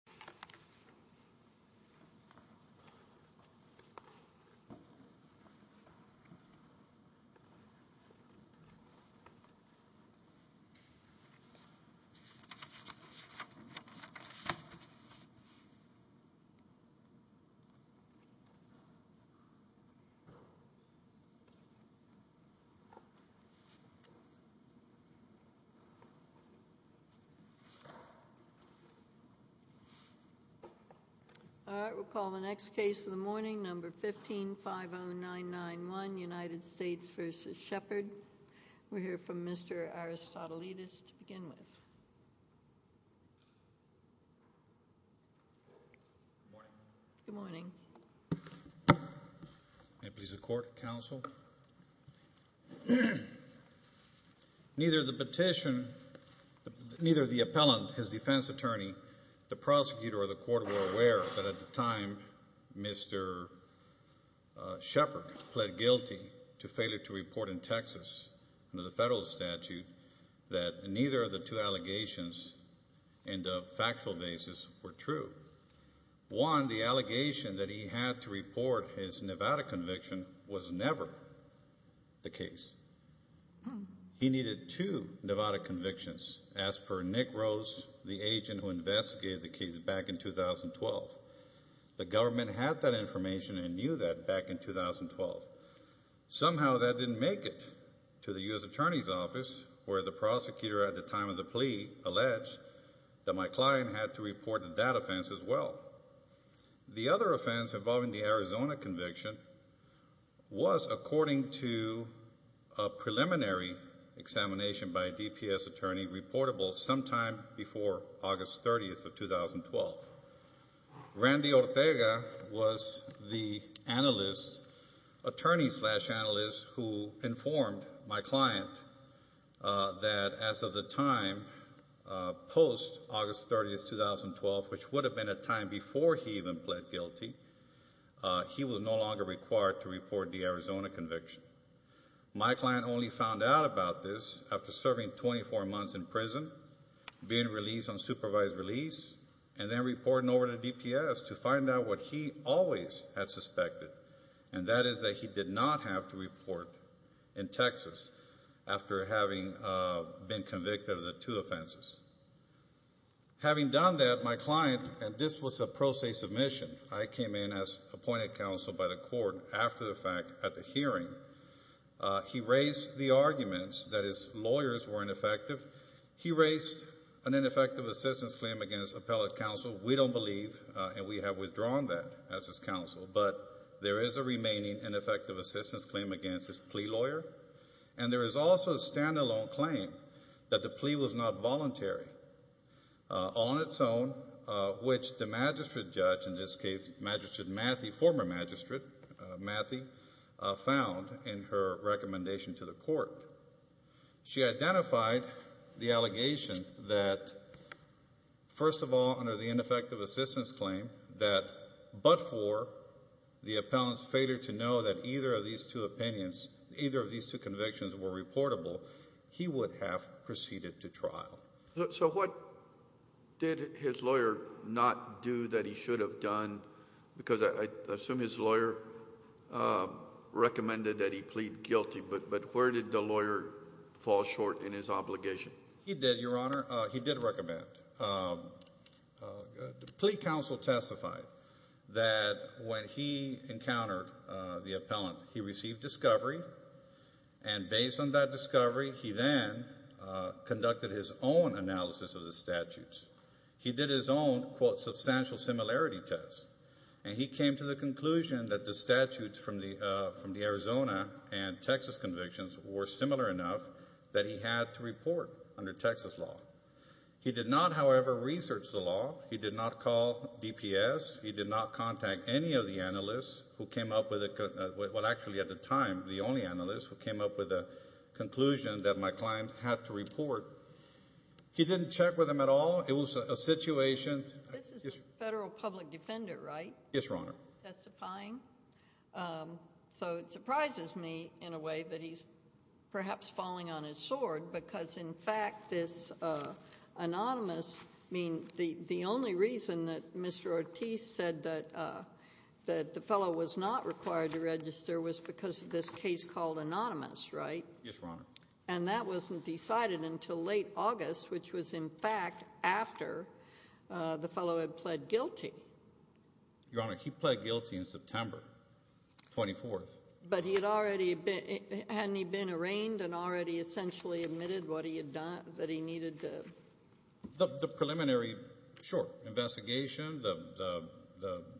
V. President for the United States of America, the President of the United States of America, All right, we'll call the next case of the morning, No. 15-50991, United States v. Shepherd. We'll hear from Mr. Aristotelidis to begin with. Good morning. Good morning. May it please the Court, Counsel. Neither the petition, neither the appellant, his defense attorney, the prosecutor, or the Court were aware that at the time Mr. Shepherd pled guilty to failure to report in Texas under the federal statute that neither of the two allegations in the factual basis were true. One, the allegation that he had to report his Nevada conviction was never the case. He needed two Nevada convictions, as per Nick Rose, the agent who investigated the case back in 2012. The government had that information and knew that back in 2012. Somehow that didn't make it to the U.S. Attorney's Office, where the prosecutor at the time of the plea alleged that my client had to report that offense as well. The other offense involving the Arizona conviction was, according to a preliminary examination by a DPS attorney, reportable sometime before August 30th of 2012. Randy Ortega was the analyst, attorney-slash-analyst, who informed my client that as of the time post-August 30th, 2012, which would have been a time before he even pled guilty, he was no longer required to report the Arizona conviction. My client only found out about this after serving 24 months in prison, being released on supervised release, and then reporting over to DPS to find out what he always had suspected, and that is that he did not have to report in Texas after having been convicted of the two offenses. Having done that, my client—and this was a pro se submission. I came in as appointed counsel by the court after the fact at the hearing. He raised the arguments that his lawyers were ineffective. He raised an ineffective assistance claim against appellate counsel. We don't believe, and we have withdrawn that as his counsel. But there is a remaining ineffective assistance claim against his plea lawyer, and there is also a stand-alone claim that the plea was not voluntary on its own, which the magistrate judge—in this case, Magistrate Matthew, former magistrate Matthew—found in her recommendation to the court. She identified the allegation that, first of all, under the ineffective assistance claim, that but for the appellant's failure to know that either of these two opinions, either of these two convictions were reportable, he would have proceeded to trial. So what did his lawyer not do that he should have done? Because I assume his lawyer recommended that he plead guilty, but where did the lawyer fall short in his obligation? He did, Your Honor. He did recommend. The plea counsel testified that when he encountered the appellant, he received discovery, and based on that discovery, he then conducted his own analysis of the statutes. He did his own, quote, substantial similarity test, and he came to the conclusion that the statutes from the Arizona and Texas convictions were similar enough that he had to report under Texas law. He did not, however, research the law. He did not call DPS. He did not contact any of the analysts who came up with a—well, actually, at the time, the only analyst who came up with a conclusion that my client had to report. He didn't check with them at all. It was a situation— This is a federal public defendant, right? Yes, Your Honor. So it surprises me in a way that he's perhaps falling on his sword because, in fact, this anonymous—I mean, the only reason that Mr. Ortiz said that the fellow was not required to register was because of this case called anonymous, right? Yes, Your Honor. And that wasn't decided until late August, which was, in fact, after the fellow had pled guilty. Your Honor, he pled guilty in September 24th. But he had already been—hadn't he been arraigned and already essentially admitted what he had done, that he needed to— The preliminary, sure, investigation, the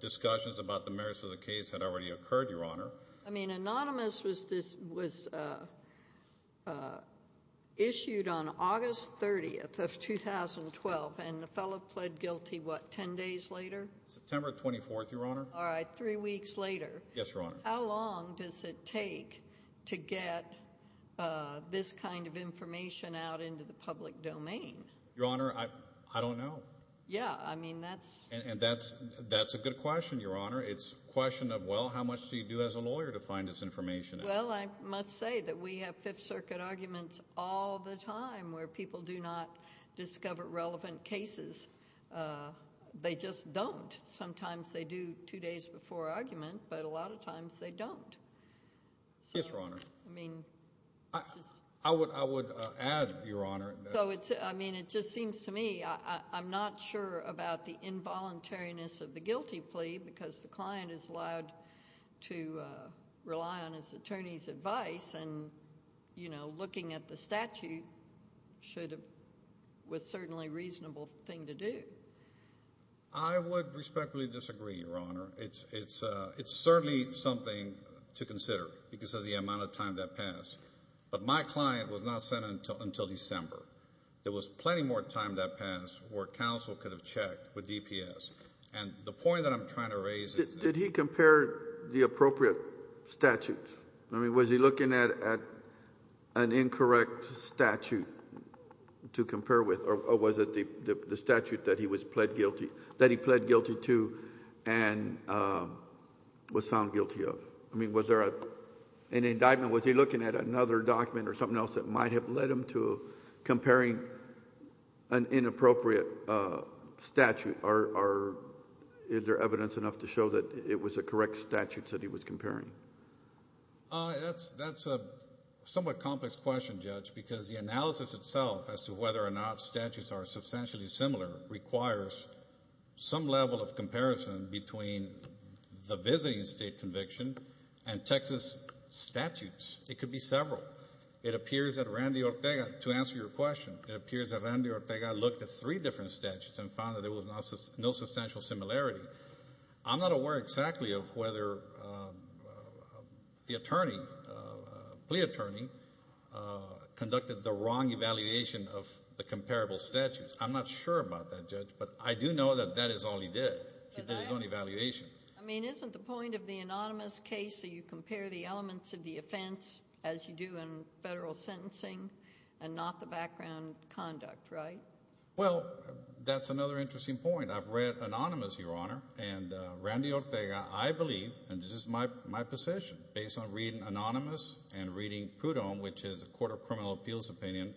discussions about the merits of the case had already occurred, Your Honor. I mean, anonymous was issued on August 30th of 2012, and the fellow pled guilty, what, 10 days later? September 24th, Your Honor. All right, three weeks later. Yes, Your Honor. How long does it take to get this kind of information out into the public domain? Your Honor, I don't know. Yeah, I mean, that's— And that's a good question, Your Honor. It's a question of, well, how much do you do as a lawyer to find this information out? Well, I must say that we have Fifth Circuit arguments all the time where people do not discover relevant cases. They just don't. Sometimes they do two days before argument, but a lot of times they don't. Yes, Your Honor. I mean— I would add, Your Honor— So it's—I mean, it just seems to me I'm not sure about the involuntariness of the guilty plea because the client is allowed to rely on his attorney's advice, and, you know, looking at the statute was certainly a reasonable thing to do. I would respectfully disagree, Your Honor. It's certainly something to consider because of the amount of time that passed. But my client was not sent until December. There was plenty more time that passed where counsel could have checked with DPS. And the point that I'm trying to raise is— Did he compare the appropriate statute? I mean, was he looking at an incorrect statute to compare with, or was it the statute that he was pled guilty—that he pled guilty to and was found guilty of? I mean, was there an indictment? Was he looking at another document or something else that might have led him to comparing an inappropriate statute? Or is there evidence enough to show that it was a correct statute that he was comparing? That's a somewhat complex question, Judge, because the analysis itself as to whether or not statutes are substantially similar requires some level of comparison between the visiting state conviction and Texas statutes. It could be several. It appears that Randy Ortega, to answer your question, it appears that Randy Ortega looked at three different statutes and found that there was no substantial similarity. I'm not aware exactly of whether the attorney, plea attorney, conducted the wrong evaluation of the comparable statutes. I'm not sure about that, Judge, but I do know that that is all he did. He did his own evaluation. I mean, isn't the point of the anonymous case that you compare the elements of the offense as you do in federal sentencing and not the background conduct, right? Well, that's another interesting point. I've read anonymous, Your Honor, and Randy Ortega, I believe, and this is my position, based on reading anonymous and reading Prudhomme, which is a court of criminal appeals opinion,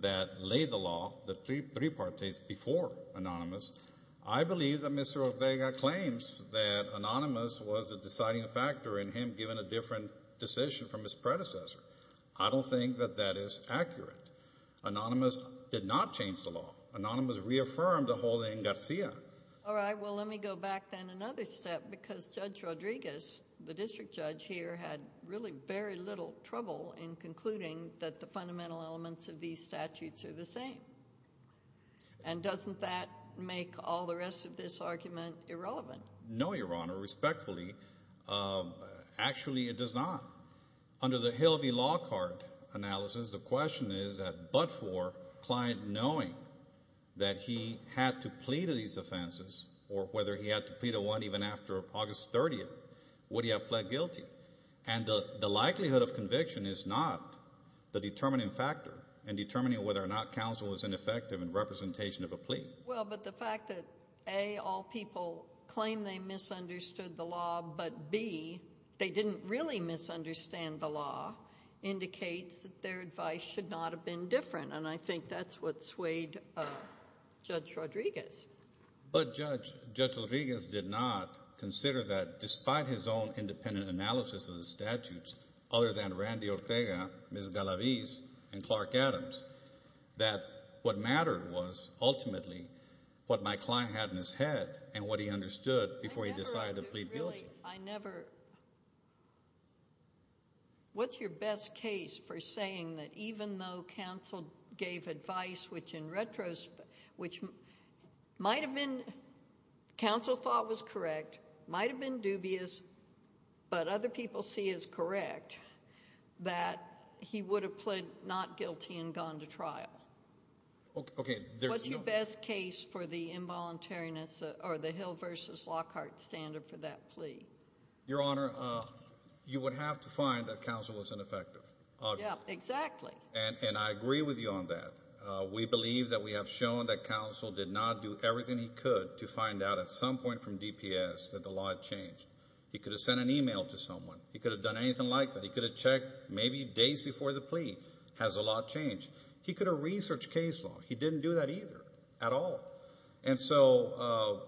that laid the law, the three parties before anonymous, I believe that Mr. Ortega claims that anonymous was a deciding factor in him giving a different decision from his predecessor. I don't think that that is accurate. Anonymous did not change the law. Anonymous reaffirmed the whole thing in Garcia. All right. Well, let me go back then another step because Judge Rodriguez, the district judge here, had really very little trouble in concluding that the fundamental elements of these statutes are the same. And doesn't that make all the rest of this argument irrelevant? No, Your Honor, respectfully. Actually, it does not. Under the Hill v. Lockhart analysis, the question is that but for client knowing that he had to plead these offenses or whether he had to plead a one even after August 30th, would he have pled guilty? And the likelihood of conviction is not the determining factor in determining whether or not counsel is ineffective in representation of a plea. Well, but the fact that, A, all people claim they misunderstood the law, but, B, they didn't really misunderstand the law indicates that their advice should not have been different, and I think that's what swayed Judge Rodriguez. But, Judge, Judge Rodriguez did not consider that despite his own independent analysis of the statutes other than Randy Ortega, Ms. Galavis, and Clark Adams, that what mattered was ultimately what my client had in his head and what he understood before he decided to plead guilty. Actually, I never, what's your best case for saying that even though counsel gave advice, which in retrospect, which might have been, counsel thought was correct, might have been dubious, but other people see as correct, that he would have pled not guilty and gone to trial? Okay. What's your best case for the involuntariness or the Hill v. Lockhart standard for that plea? Your Honor, you would have to find that counsel was ineffective. Yeah, exactly. And I agree with you on that. We believe that we have shown that counsel did not do everything he could to find out at some point from DPS that the law had changed. He could have sent an email to someone. He could have done anything like that. He could have checked maybe days before the plea. Has the law changed? He could have researched case law. He didn't do that either at all. And so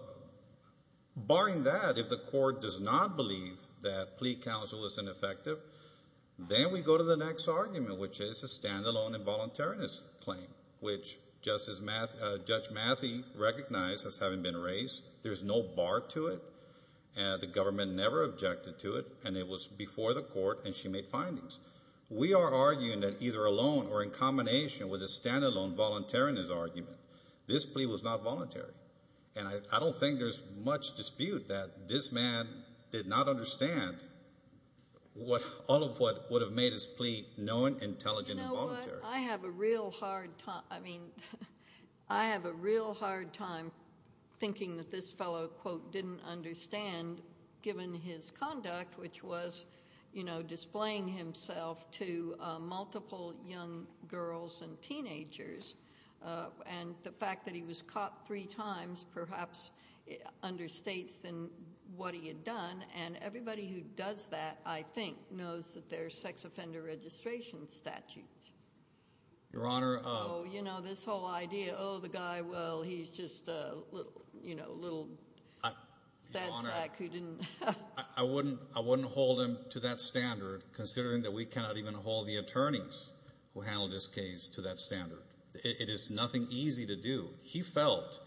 barring that, if the court does not believe that plea counsel was ineffective, then we go to the next argument, which is a standalone involuntariness claim, which Judge Matthey recognized as having been raised. There's no bar to it. The government never objected to it, and it was before the court, and she made findings. We are arguing that either alone or in combination with a standalone voluntariness argument, this plea was not voluntary. And I don't think there's much dispute that this man did not understand all of what would have made his plea known, intelligent, and voluntary. You know what? I have a real hard time thinking that this fellow, quote, given his conduct, which was displaying himself to multiple young girls and teenagers, and the fact that he was caught three times perhaps understates what he had done. And everybody who does that, I think, knows that there are sex offender registration statutes. Your Honor. So, you know, this whole idea, oh, the guy, well, he's just a little sad sack who didn't. Your Honor, I wouldn't hold him to that standard, considering that we cannot even hold the attorneys who handled this case to that standard. It is nothing easy to do. He felt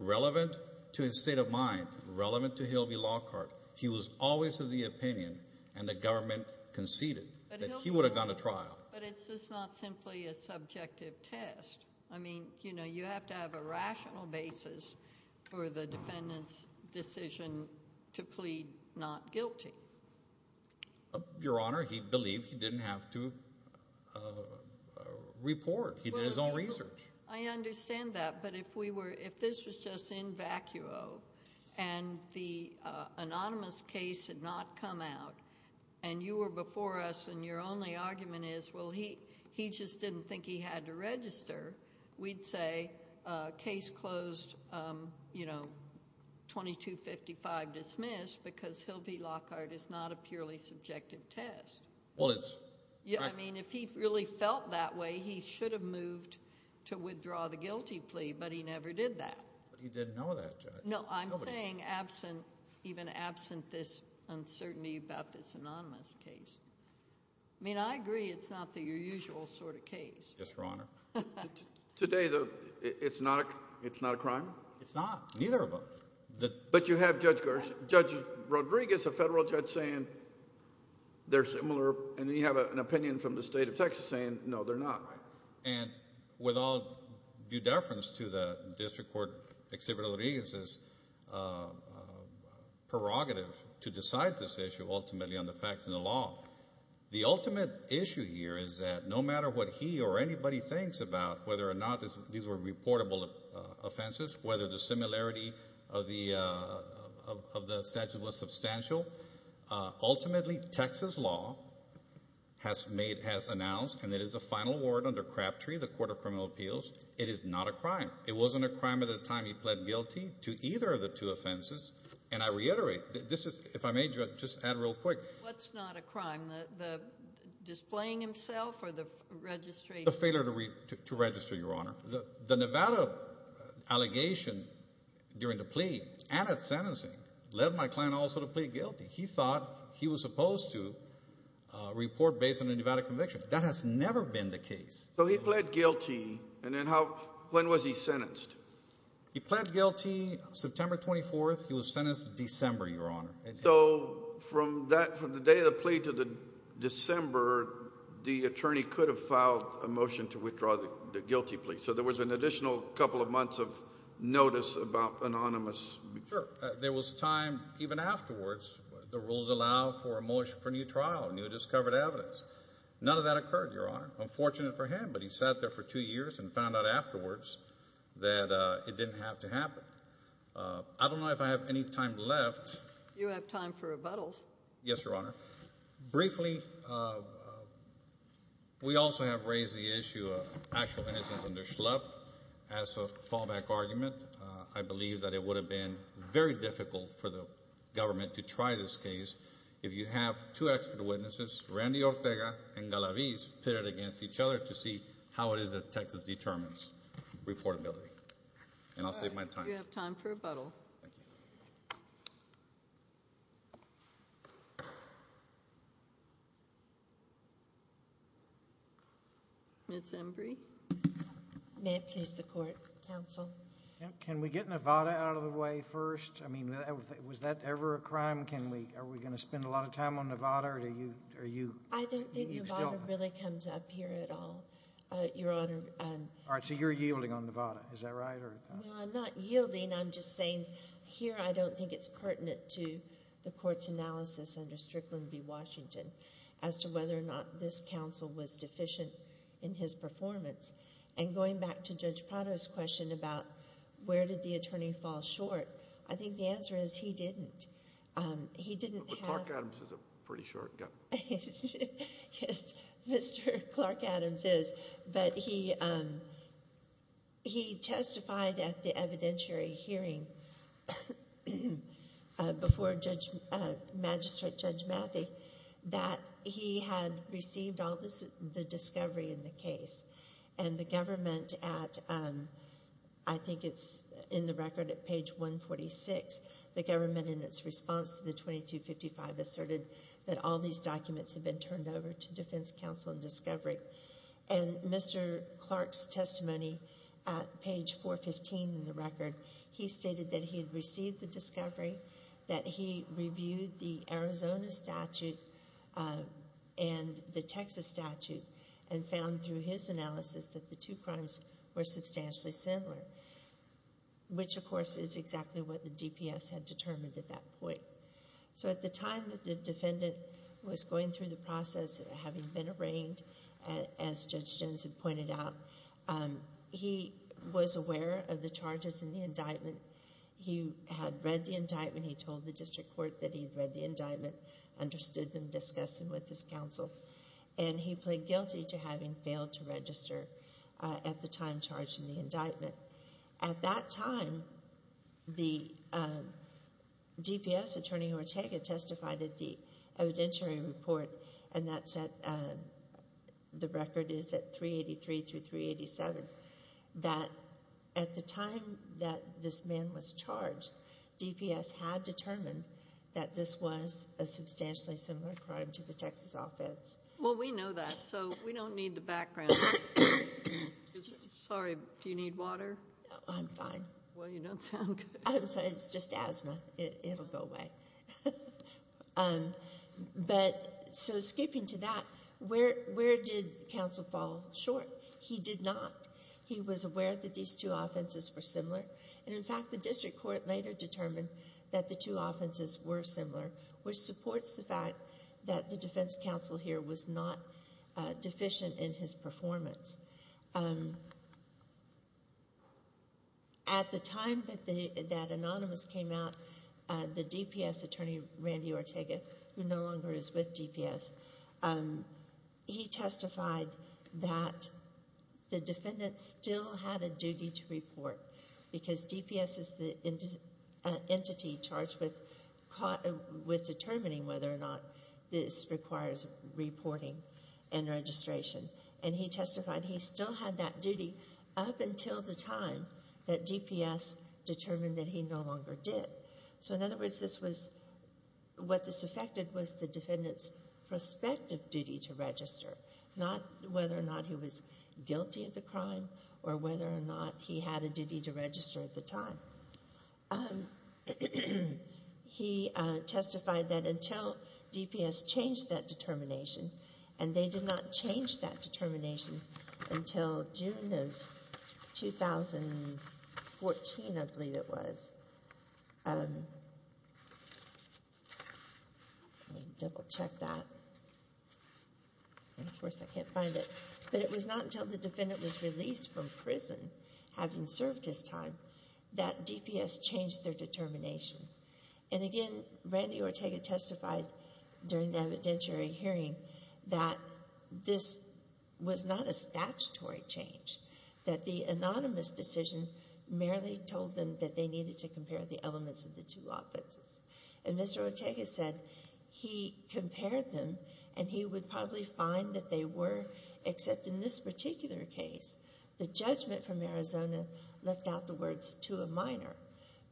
relevant to his state of mind, relevant to Hilby Lockhart. He was always of the opinion, and the government conceded, that he would have gone to trial. But it's just not simply a subjective test. I mean, you know, you have to have a rational basis for the defendant's decision to plead not guilty. Your Honor, he believed he didn't have to report. He did his own research. I understand that, but if this was just in vacuo, and the anonymous case had not come out, and you were before us and your only argument is, well, he just didn't think he had to register, we'd say case closed, you know, 2255 dismissed, because Hilby Lockhart is not a purely subjective test. Well, it's. I mean, if he really felt that way, he should have moved to withdraw the guilty plea, but he never did that. But he didn't know that, Judge. No, I'm saying even absent this uncertainty about this anonymous case. I mean, I agree it's not the usual sort of case. Yes, Your Honor. Today, though, it's not a crime? It's not, neither of them. But you have Judge Rodriguez, a federal judge, saying they're similar, and then you have an opinion from the state of Texas saying, no, they're not. And with all due deference to the district court, Exhibit Rodriguez's prerogative to decide this issue ultimately on the facts and the law, the ultimate issue here is that no matter what he or anybody thinks about whether or not these were reportable offenses, whether the similarity of the statute was substantial, ultimately, Texas law has made, has announced, and it is a final word under Crabtree, the Court of Criminal Appeals, it is not a crime. It wasn't a crime at the time he pled guilty to either of the two offenses. And I reiterate, this is, if I may, Judge, just add real quick. What's not a crime? The displaying himself or the registry? The failure to register, Your Honor. The Nevada allegation during the plea and at sentencing led my client also to plead guilty. He thought he was supposed to report based on a Nevada conviction. That has never been the case. So he pled guilty, and then how, when was he sentenced? He pled guilty September 24th. He was sentenced December, Your Honor. So from that, from the day of the plea to December, the attorney could have filed a motion to withdraw the guilty plea. So there was an additional couple of months of notice about anonymous. Sure. There was time, even afterwards, the rules allow for a motion for new trial, new discovered evidence. None of that occurred, Your Honor. Unfortunate for him, but he sat there for two years and found out afterwards that it didn't have to happen. I don't know if I have any time left. You have time for rebuttal. Yes, Your Honor. Briefly, we also have raised the issue of actual innocence under Schlupp as a fallback argument. I believe that it would have been very difficult for the government to try this case if you have two expert witnesses, Randy Ortega and Galavis, pitted against each other to see how it is that Texas determines reportability. And I'll save my time. You have time for rebuttal. Thank you. Ms. Embry. May it please the Court, Counsel. Can we get Nevada out of the way first? I mean, was that ever a crime? Are we going to spend a lot of time on Nevada? I don't think Nevada really comes up here at all, Your Honor. All right, so you're yielding on Nevada. Is that right? Well, I'm not yielding. I'm just saying here I don't think it's pertinent to the Court's analysis under Strickland v. Washington as to whether or not this counsel was deficient in his performance. And going back to Judge Prado's question about where did the attorney fall short, I think the answer is he didn't. But Clark Adams is a pretty short guy. Yes, Mr. Clark Adams is. But he testified at the evidentiary hearing before Magistrate Judge Matthey that he had received all the discovery in the case. And the government at, I think it's in the record at page 146, the government in its response to the 2255 asserted that all these documents had been turned over to Defense Counsel and Discovery. And Mr. Clark's testimony at page 415 in the record, he stated that he had received the discovery, that he reviewed the Arizona statute and the Texas statute, and found through his analysis that the two crimes were substantially similar, which, of course, is exactly what the DPS had determined at that point. So at the time that the defendant was going through the process, having been arraigned, as Judge Jones had pointed out, he was aware of the charges in the indictment. He had read the indictment. He told the district court that he had read the indictment, understood them, discussed them with his counsel. And he pled guilty to having failed to register at the time charged in the indictment. At that time, the DPS attorney, Ortega, testified at the evidentiary report, and the record is at 383 through 387, that at the time that this man was charged, DPS had determined that this was a substantially similar crime to the Texas offense. Well, we know that, so we don't need the background. Sorry, do you need water? I'm fine. Well, you don't sound good. I'm sorry, it's just asthma. It will go away. But so skipping to that, where did counsel fall short? He did not. He was aware that these two offenses were similar. And, in fact, the district court later determined that the two offenses were similar, which supports the fact that the defense counsel here was not deficient in his performance. At the time that Anonymous came out, the DPS attorney, Randy Ortega, who no longer is with DPS, he testified that the defendant still had a duty to report, because DPS is the entity charged with determining whether or not this requires reporting and registration. And he testified he still had that duty up until the time that DPS determined that he no longer did. So, in other words, what this affected was the defendant's prospective duty to register, not whether or not he was guilty of the crime or whether or not he had a duty to register at the time. He testified that until DPS changed that determination, and they did not change that determination until June of 2014, I believe it was. Let me double-check that. And, of course, I can't find it. But it was not until the defendant was released from prison, having served his time, that DPS changed their determination. And, again, Randy Ortega testified during the evidentiary hearing that this was not a statutory change, that the anonymous decision merely told them that they needed to compare the elements of the two offenses. And Mr. Ortega said he compared them, and he would probably find that they were, except in this particular case, the judgment from Arizona left out the words to a minor.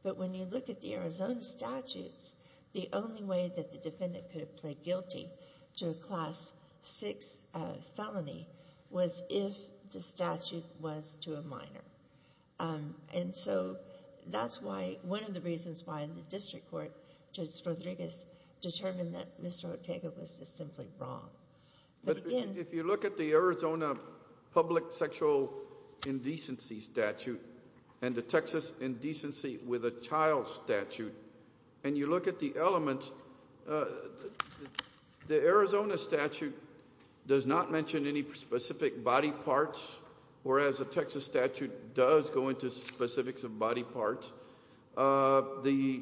But when you look at the Arizona statutes, the only way that the defendant could have pled guilty to a Class VI felony was if the statute was to a minor. And so that's one of the reasons why the district court, Judge Rodriguez, determined that Mr. Ortega was just simply wrong. But if you look at the Arizona public sexual indecency statute and the Texas indecency with a child statute, and you look at the elements, the Arizona statute does not mention any specific body parts, whereas the Texas statute does go into specifics of body parts. The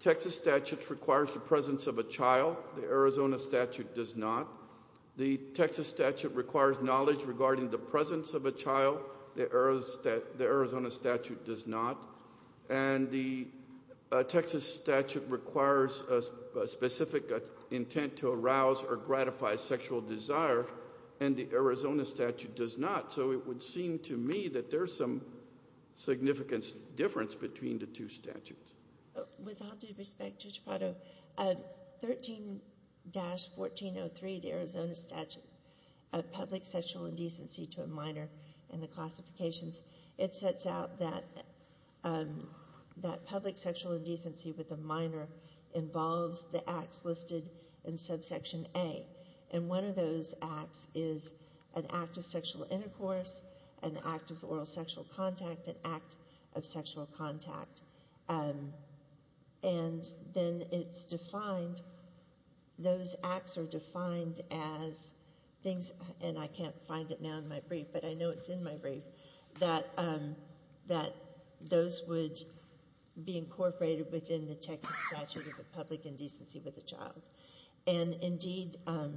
Texas statute requires the presence of a child. The Arizona statute does not. The Texas statute requires knowledge regarding the presence of a child. The Arizona statute does not. And the Texas statute requires a specific intent to arouse or gratify sexual desire, and the Arizona statute does not. So it would seem to me that there's some significant difference between the two statutes. With all due respect, Judge Prado, 13-1403, the Arizona statute, public sexual indecency to a minor in the classifications, it sets out that public sexual indecency with a minor involves the acts listed in subsection A. And one of those acts is an act of sexual intercourse, an act of oral sexual contact, an act of sexual contact. And then it's defined, those acts are defined as things, and I can't find it now in my brief, but I know it's in my brief, that those would be incorporated within the Texas statute of a public indecency with a child. And, indeed, the-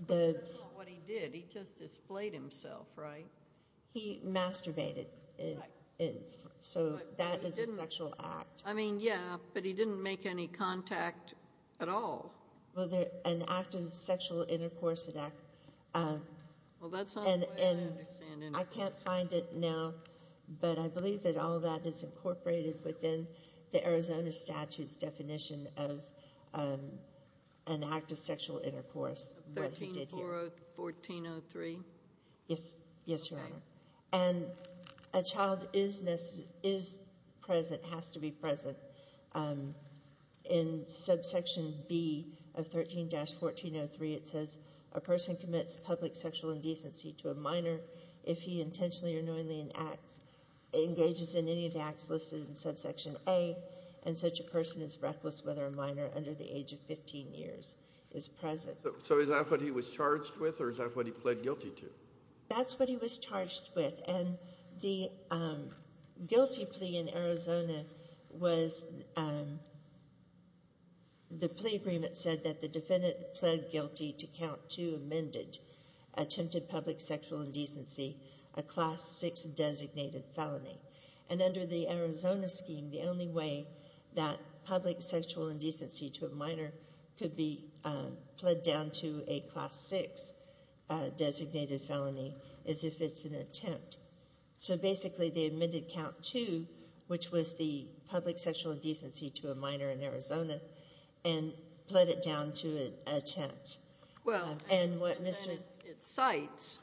But that's not what he did. He just displayed himself, right? He masturbated. Right. So that is a sexual act. I mean, yeah, but he didn't make any contact at all. Well, an act of sexual intercourse, an act- Well, that's not the way I understand intercourse. I can't find it now, but I believe that all that is incorporated within the Arizona statute's definition of an act of sexual intercourse, what he did here. 13-1403? Yes, Your Honor. Okay. And a child is present, has to be present. In subsection B of 13-1403, it says a person commits public sexual indecency to a minor if he intentionally or knowingly engages in any of the acts listed in subsection A, and such a person is reckless whether a minor under the age of 15 years is present. So is that what he was charged with or is that what he pled guilty to? That's what he was charged with. And the guilty plea in Arizona was the plea agreement said that the defendant pled guilty to count two amended attempted public sexual indecency, a Class 6 designated felony. And under the Arizona scheme, the only way that public sexual indecency to a minor could be pled down to a Class 6 designated felony is if it's an attempt. So basically they amended count two, which was the public sexual indecency to a minor in Arizona, and pled it down to an attempt. Well, it cites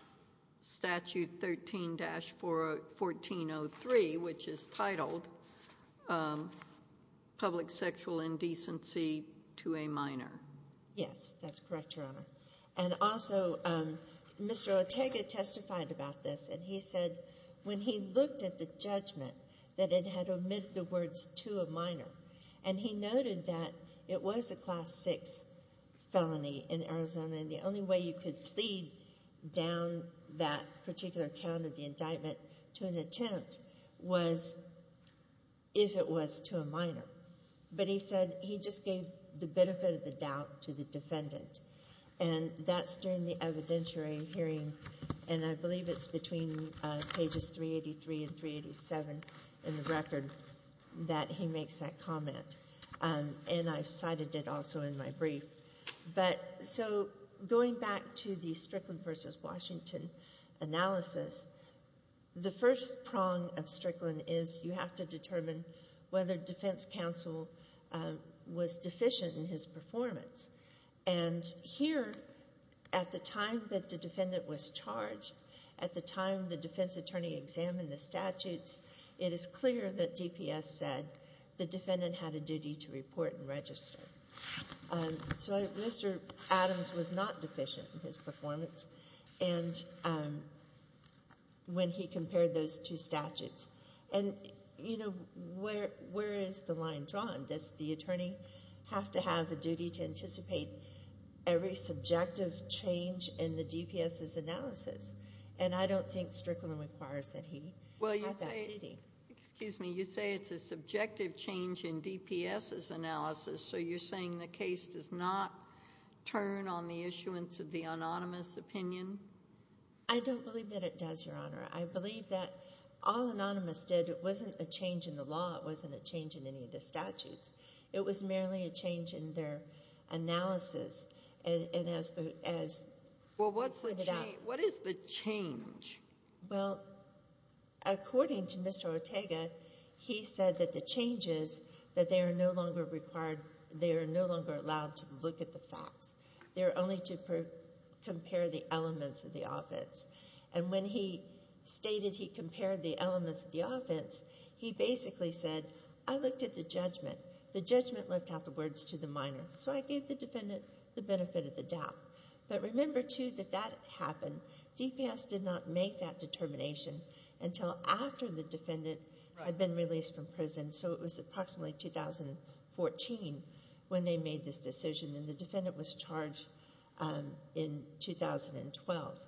statute 13-1403, which is titled public sexual indecency to a minor. Yes, that's correct, Your Honor. And also Mr. Ortega testified about this, and he said when he looked at the judgment that it had omitted the words to a minor, and he noted that it was a Class 6 felony in Arizona, and the only way you could plead down that particular count of the indictment to an attempt was if it was to a minor. But he said he just gave the benefit of the doubt to the defendant. And that's during the evidentiary hearing, and I believe it's between pages 383 and 387 in the record that he makes that comment. And I cited it also in my brief. But so going back to the Strickland v. Washington analysis, the first prong of Strickland is you have to determine whether defense counsel was deficient in his performance. And here, at the time that the defendant was charged, at the time the defense attorney examined the statutes, it is clear that DPS said the defendant had a duty to report and register. So Mr. Adams was not deficient in his performance when he compared those two statutes. And, you know, where is the line drawn? Does the attorney have to have a duty to anticipate every subjective change in the DPS's analysis? And I don't think Strickland requires that he have that duty. Well, you say it's a subjective change in DPS's analysis, so you're saying the case does not turn on the issuance of the anonymous opinion? I don't believe that it does, Your Honor. I believe that all anonymous did, it wasn't a change in the law. It wasn't a change in any of the statutes. It was merely a change in their analysis. And as the— Well, what's the change? What is the change? Well, according to Mr. Ortega, he said that the change is that they are no longer required—they are no longer allowed to look at the facts. They are only to compare the elements of the offense. And when he stated he compared the elements of the offense, he basically said, I looked at the judgment. The judgment left out the words to the minor. So I gave the defendant the benefit of the doubt. But remember, too, that that happened. DPS did not make that determination until after the defendant had been released from prison. So it was approximately 2014 when they made this decision, and the defendant was charged in 2012.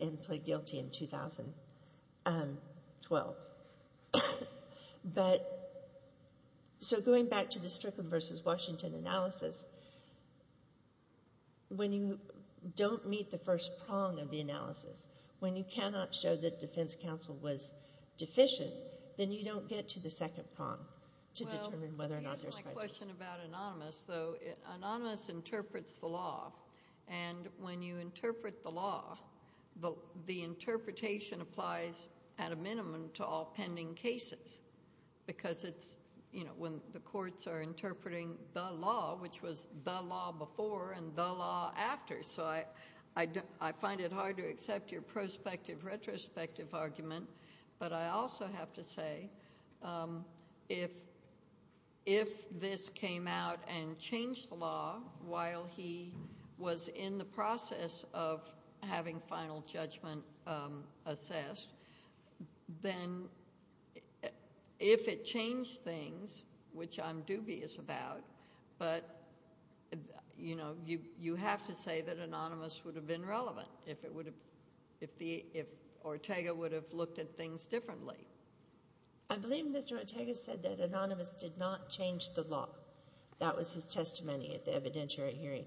And pled guilty in 2012. But—so going back to the Strickland v. Washington analysis, when you don't meet the first prong of the analysis, when you cannot show that defense counsel was deficient, then you don't get to the second prong to determine whether or not there's— Well, to answer my question about anonymous, though, anonymous interprets the law. And when you interpret the law, the interpretation applies at a minimum to all pending cases because it's, you know, when the courts are interpreting the law, which was the law before and the law after. So I find it hard to accept your prospective retrospective argument. But I also have to say, if this came out and changed the law while he was in the process of having final judgment assessed, then if it changed things, which I'm dubious about, but, you know, you have to say that anonymous would have been relevant. If not, if Ortega would have looked at things differently. I believe Mr. Ortega said that anonymous did not change the law. That was his testimony at the evidentiary hearing.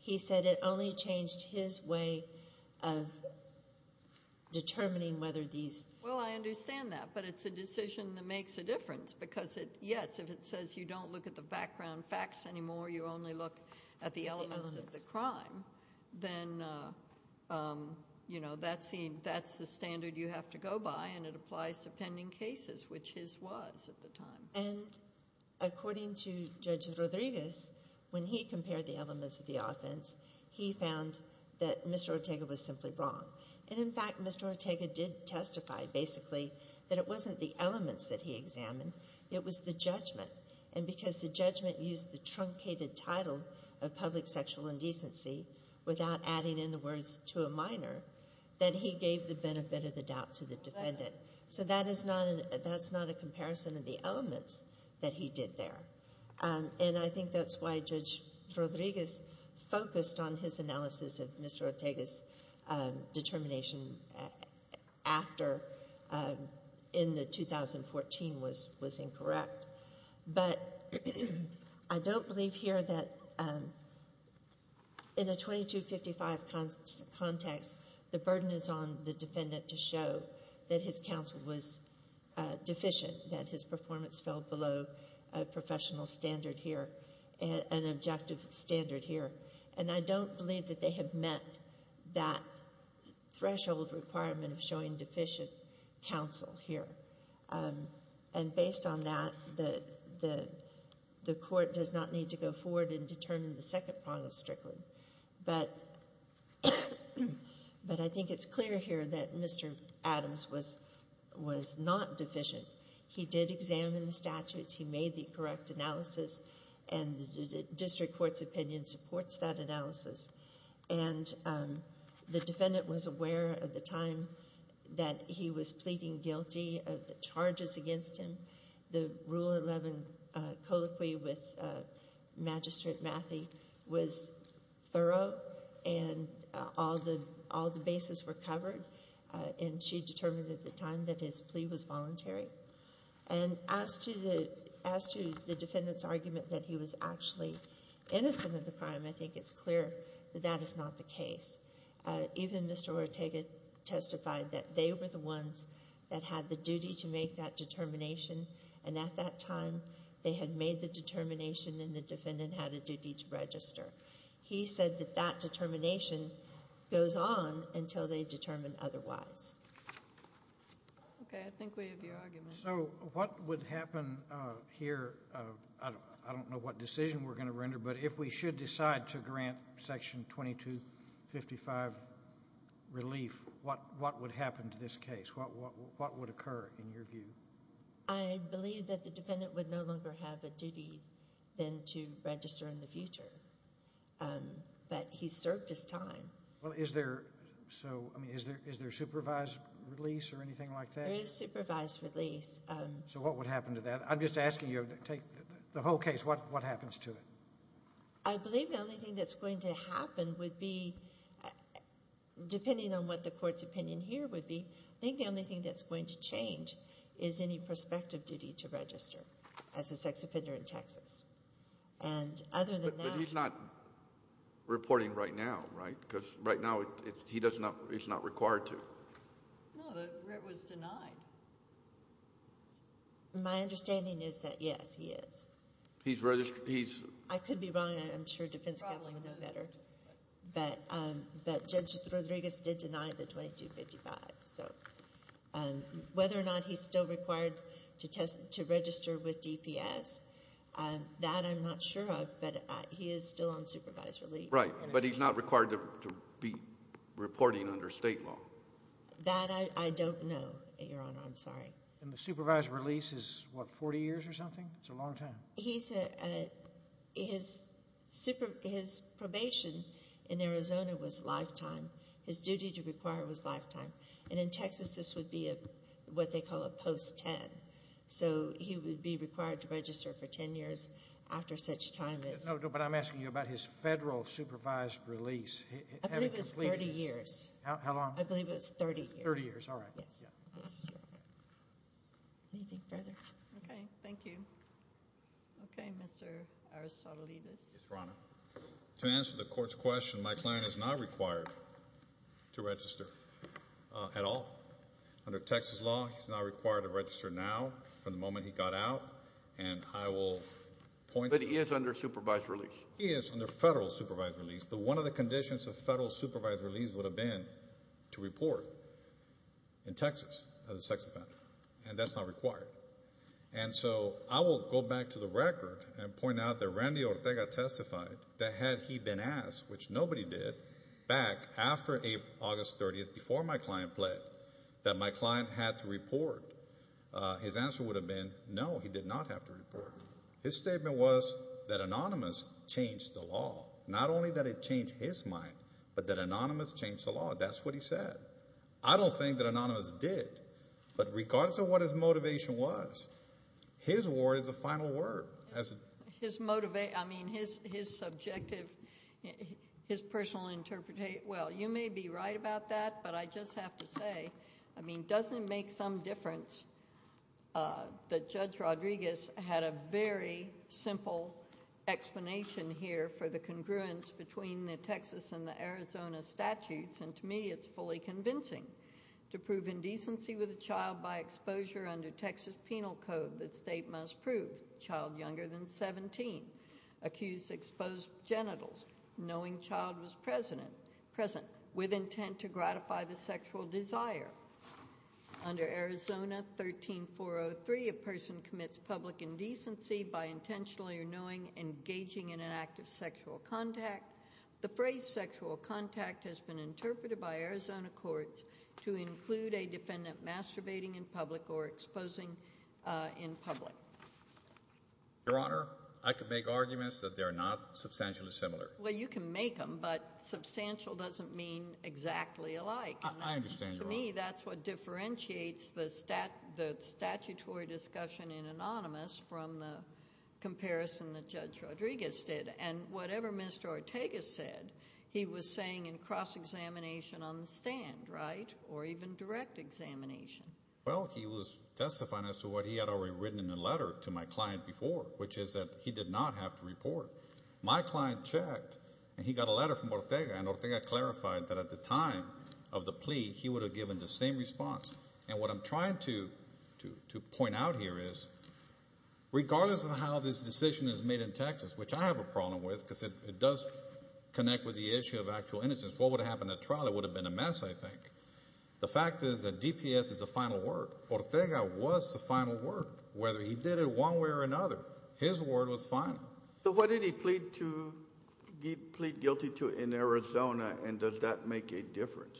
He said it only changed his way of determining whether these— Well, I understand that, but it's a decision that makes a difference because it—yes, if it says you don't look at the background facts anymore, you only look at the elements of the crime, then, you know, that's the standard you have to go by, and it applies to pending cases, which his was at the time. And according to Judge Rodriguez, when he compared the elements of the offense, he found that Mr. Ortega was simply wrong. And, in fact, Mr. Ortega did testify, basically, that it wasn't the elements that he examined, it was the judgment. And because the judgment used the truncated title of public sexual indecency without adding in the words to a minor, that he gave the benefit of the doubt to the defendant. So that is not a comparison of the elements that he did there. And I think that's why Judge Rodriguez focused on his analysis of Mr. Ortega's determination after, in the 2014, was incorrect. But I don't believe here that in a 2255 context, the burden is on the defendant to show that his counsel was deficient, that his performance fell below a professional standard here, an objective standard here. And I don't believe that they have met that threshold requirement of showing deficient counsel here. And based on that, the court does not need to go forward and determine the second prong of Strickland. But I think it's clear here that Mr. Adams was not deficient. He did examine the statutes. He made the correct analysis. And the district court's opinion supports that analysis. And the defendant was aware at the time that he was pleading guilty of the charges against him. The Rule 11 colloquy with Magistrate Mathie was thorough, and all the bases were covered. And she determined at the time that his plea was voluntary. And as to the defendant's argument that he was actually innocent of the crime, I think it's clear that that is not the case. Even Mr. Ortega testified that they were the ones that had the duty to make that determination. And at that time, they had made the determination, and the defendant had a duty to register. He said that that determination goes on until they determine otherwise. Okay, I think we have your argument. So what would happen here? I don't know what decision we're going to render, but if we should decide to grant Section 2255 relief, what would happen to this case? What would occur in your view? I believe that the defendant would no longer have a duty than to register in the future. But he served his time. Well, is there supervised release or anything like that? There is supervised release. So what would happen to that? I'm just asking you to take the whole case. What happens to it? I believe the only thing that's going to happen would be, depending on what the Court's opinion here would be, I think the only thing that's going to change is any prospective duty to register as a sex offender in Texas. But he's not reporting right now, right? Because right now he's not required to. No, but Ritt was denied. My understanding is that, yes, he is. He's registered? I could be wrong. I'm sure defense counsel would know better. But Judge Rodriguez did deny the 2255. So whether or not he's still required to register with DPS, that I'm not sure of, but he is still on supervised relief. Right, but he's not required to be reporting under state law. That I don't know, Your Honor. I'm sorry. And the supervised release is, what, 40 years or something? It's a long time. His probation in Arizona was lifetime. His duty to require was lifetime. And in Texas this would be what they call a post-10. So he would be required to register for 10 years after such time. No, but I'm asking you about his federal supervised release. I believe it was 30 years. How long? I believe it was 30 years. 30 years, all right. Yes. Anything further? Okay, thank you. Okay, Mr. Aristotelidis. Yes, Your Honor. To answer the court's question, my client is not required to register at all. Under Texas law, he's not required to register now from the moment he got out. But he is under supervised release. He is under federal supervised release. But one of the conditions of federal supervised release would have been to report in Texas as a sex offender. And that's not required. And so I will go back to the record and point out that Randy Ortega testified that had he been asked, which nobody did, back after August 30th, before my client pled, that my client had to report, his answer would have been no, he did not have to report. His statement was that Anonymous changed the law. Not only that it changed his mind, but that Anonymous changed the law. That's what he said. I don't think that Anonymous did. But regardless of what his motivation was, his word is a final word. His motive, I mean, his subjective, his personal interpretation, well, you may be right about that, but I just have to say, I mean, doesn't it make some difference that Judge Rodriguez had a very simple explanation here for the congruence between the Texas and the Arizona statutes? And to me it's fully convincing. To prove indecency with a child by exposure under Texas penal code, the state must prove child younger than 17. Accused exposed genitals, knowing child was present, with intent to gratify the sexual desire. Under Arizona 13403, a person commits public indecency by intentionally or knowing engaging in an act of sexual contact. The phrase sexual contact has been interpreted by Arizona courts to include a defendant masturbating in public or exposing in public. Your Honor, I could make arguments that they're not substantially similar. Well, you can make them, but substantial doesn't mean exactly alike. I understand, Your Honor. To me, that's what differentiates the statutory discussion in Anonymous from the comparison that Judge Rodriguez did. And whatever Mr. Ortega said, he was saying in cross-examination on the stand, right, or even direct examination. Well, he was testifying as to what he had already written in a letter to my client before, which is that he did not have to report. My client checked, and he got a letter from Ortega, and Ortega clarified that at the time of the plea he would have given the same response. And what I'm trying to point out here is regardless of how this decision is made in Texas, which I have a problem with because it does connect with the issue of actual innocence, what would have happened at trial? It would have been a mess, I think. The fact is that DPS is the final word. Ortega was the final word. Whether he did it one way or another, his word was final. So what did he plead guilty to in Arizona, and does that make a difference?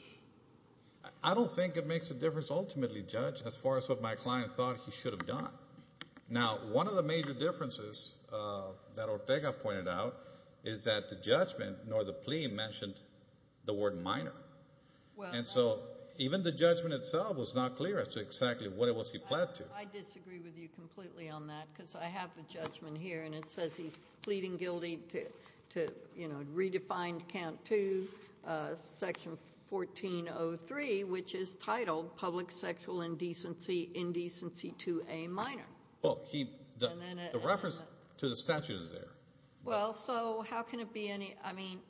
I don't think it makes a difference ultimately, Judge, as far as what my client thought he should have done. Now, one of the major differences that Ortega pointed out is that the judgment nor the plea mentioned the word minor. And so even the judgment itself was not clear as to exactly what it was he pled to. I disagree with you completely on that because I have the judgment here, and it says he's pleading guilty to, you know, redefine count 2, section 1403, which is titled public sexual indecency, indecency to a minor. Well, the reference to the statute is there. Well, so how can it be any, I mean,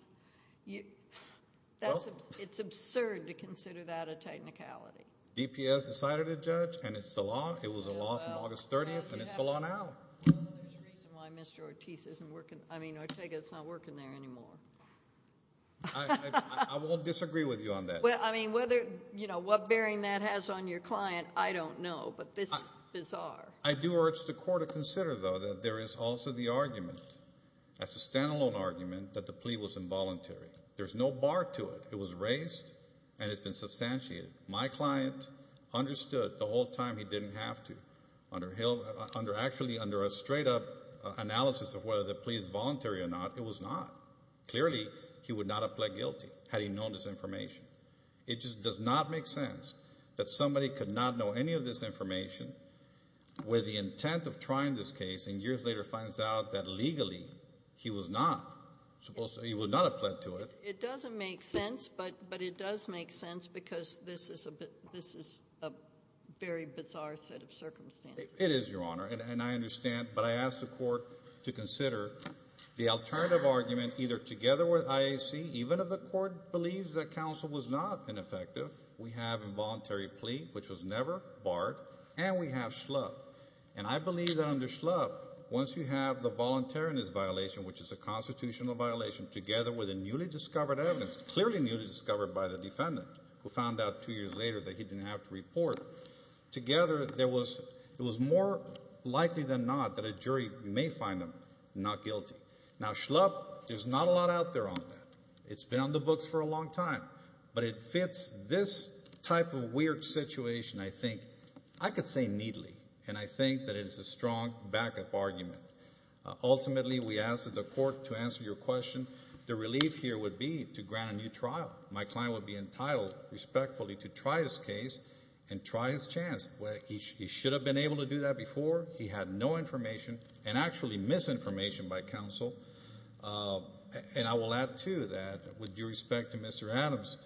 it's absurd to consider that a technicality. DPS decided it, Judge, and it's the law. It was a law from August 30th, and it's the law now. Well, there's a reason why Mr. Ortega is not working there anymore. I won't disagree with you on that. Well, I mean, whether, you know, what bearing that has on your client, I don't know, but this is bizarre. I do urge the court to consider, though, that there is also the argument, that's a standalone argument, that the plea was involuntary. There's no bar to it. It was raised, and it's been substantiated. My client understood the whole time he didn't have to. Actually, under a straight-up analysis of whether the plea is voluntary or not, it was not. Clearly, he would not have pled guilty had he known this information. It just does not make sense that somebody could not know any of this information with the intent of trying this case and years later finds out that legally he was not supposed to, he would not have pled to it. It doesn't make sense, but it does make sense because this is a very bizarre set of circumstances. It is, Your Honor, and I understand, but I ask the court to consider the alternative argument either together with IAC, even if the court believes that counsel was not ineffective, we have involuntary plea, which was never barred, and we have Schlupp. And I believe that under Schlupp, once you have the voluntariness violation, which is a constitutional violation, together with the newly discovered evidence, clearly newly discovered by the defendant who found out two years later that he didn't have to report, together it was more likely than not that a jury may find him not guilty. Now, Schlupp, there's not a lot out there on that. It's been on the books for a long time. But it fits this type of weird situation, I think, I could say neatly, and I think that it is a strong backup argument. Ultimately, we ask that the court to answer your question. The relief here would be to grant a new trial. My client would be entitled respectfully to try this case and try his chance. He should have been able to do that before. He had no information and actually misinformation by counsel. And I will add, too, that with due respect to Mr. Adams,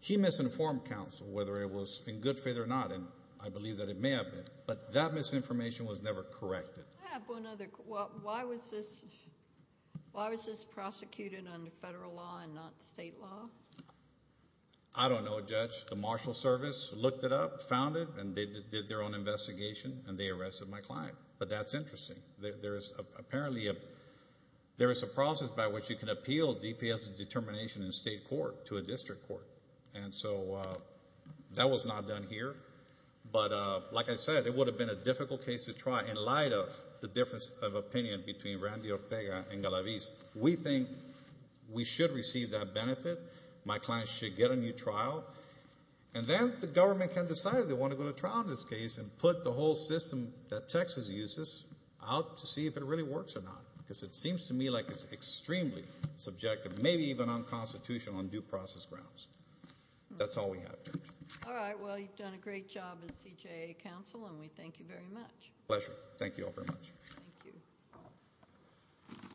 he misinformed counsel, whether it was in good faith or not, and I believe that it may have been. But that misinformation was never corrected. I have one other. Why was this prosecuted under federal law and not state law? I don't know, Judge. The marshal service looked it up, found it, and they did their own investigation, and they arrested my client. But that's interesting. There is apparently a process by which you can appeal DPS determination in state court to a district court. And so that was not done here. But like I said, it would have been a difficult case to try in light of the difference of opinion between Randy Ortega and Galavis. We think we should receive that benefit. My client should get a new trial. And then the government can decide if they want to go to trial in this case and put the whole system that Texas uses out to see if it really works or not, because it seems to me like it's extremely subjective, maybe even unconstitutional on due process grounds. That's all we have, Judge. All right. Well, you've done a great job as CJA counsel, and we thank you very much. Pleasure. Thank you all very much. Thank you.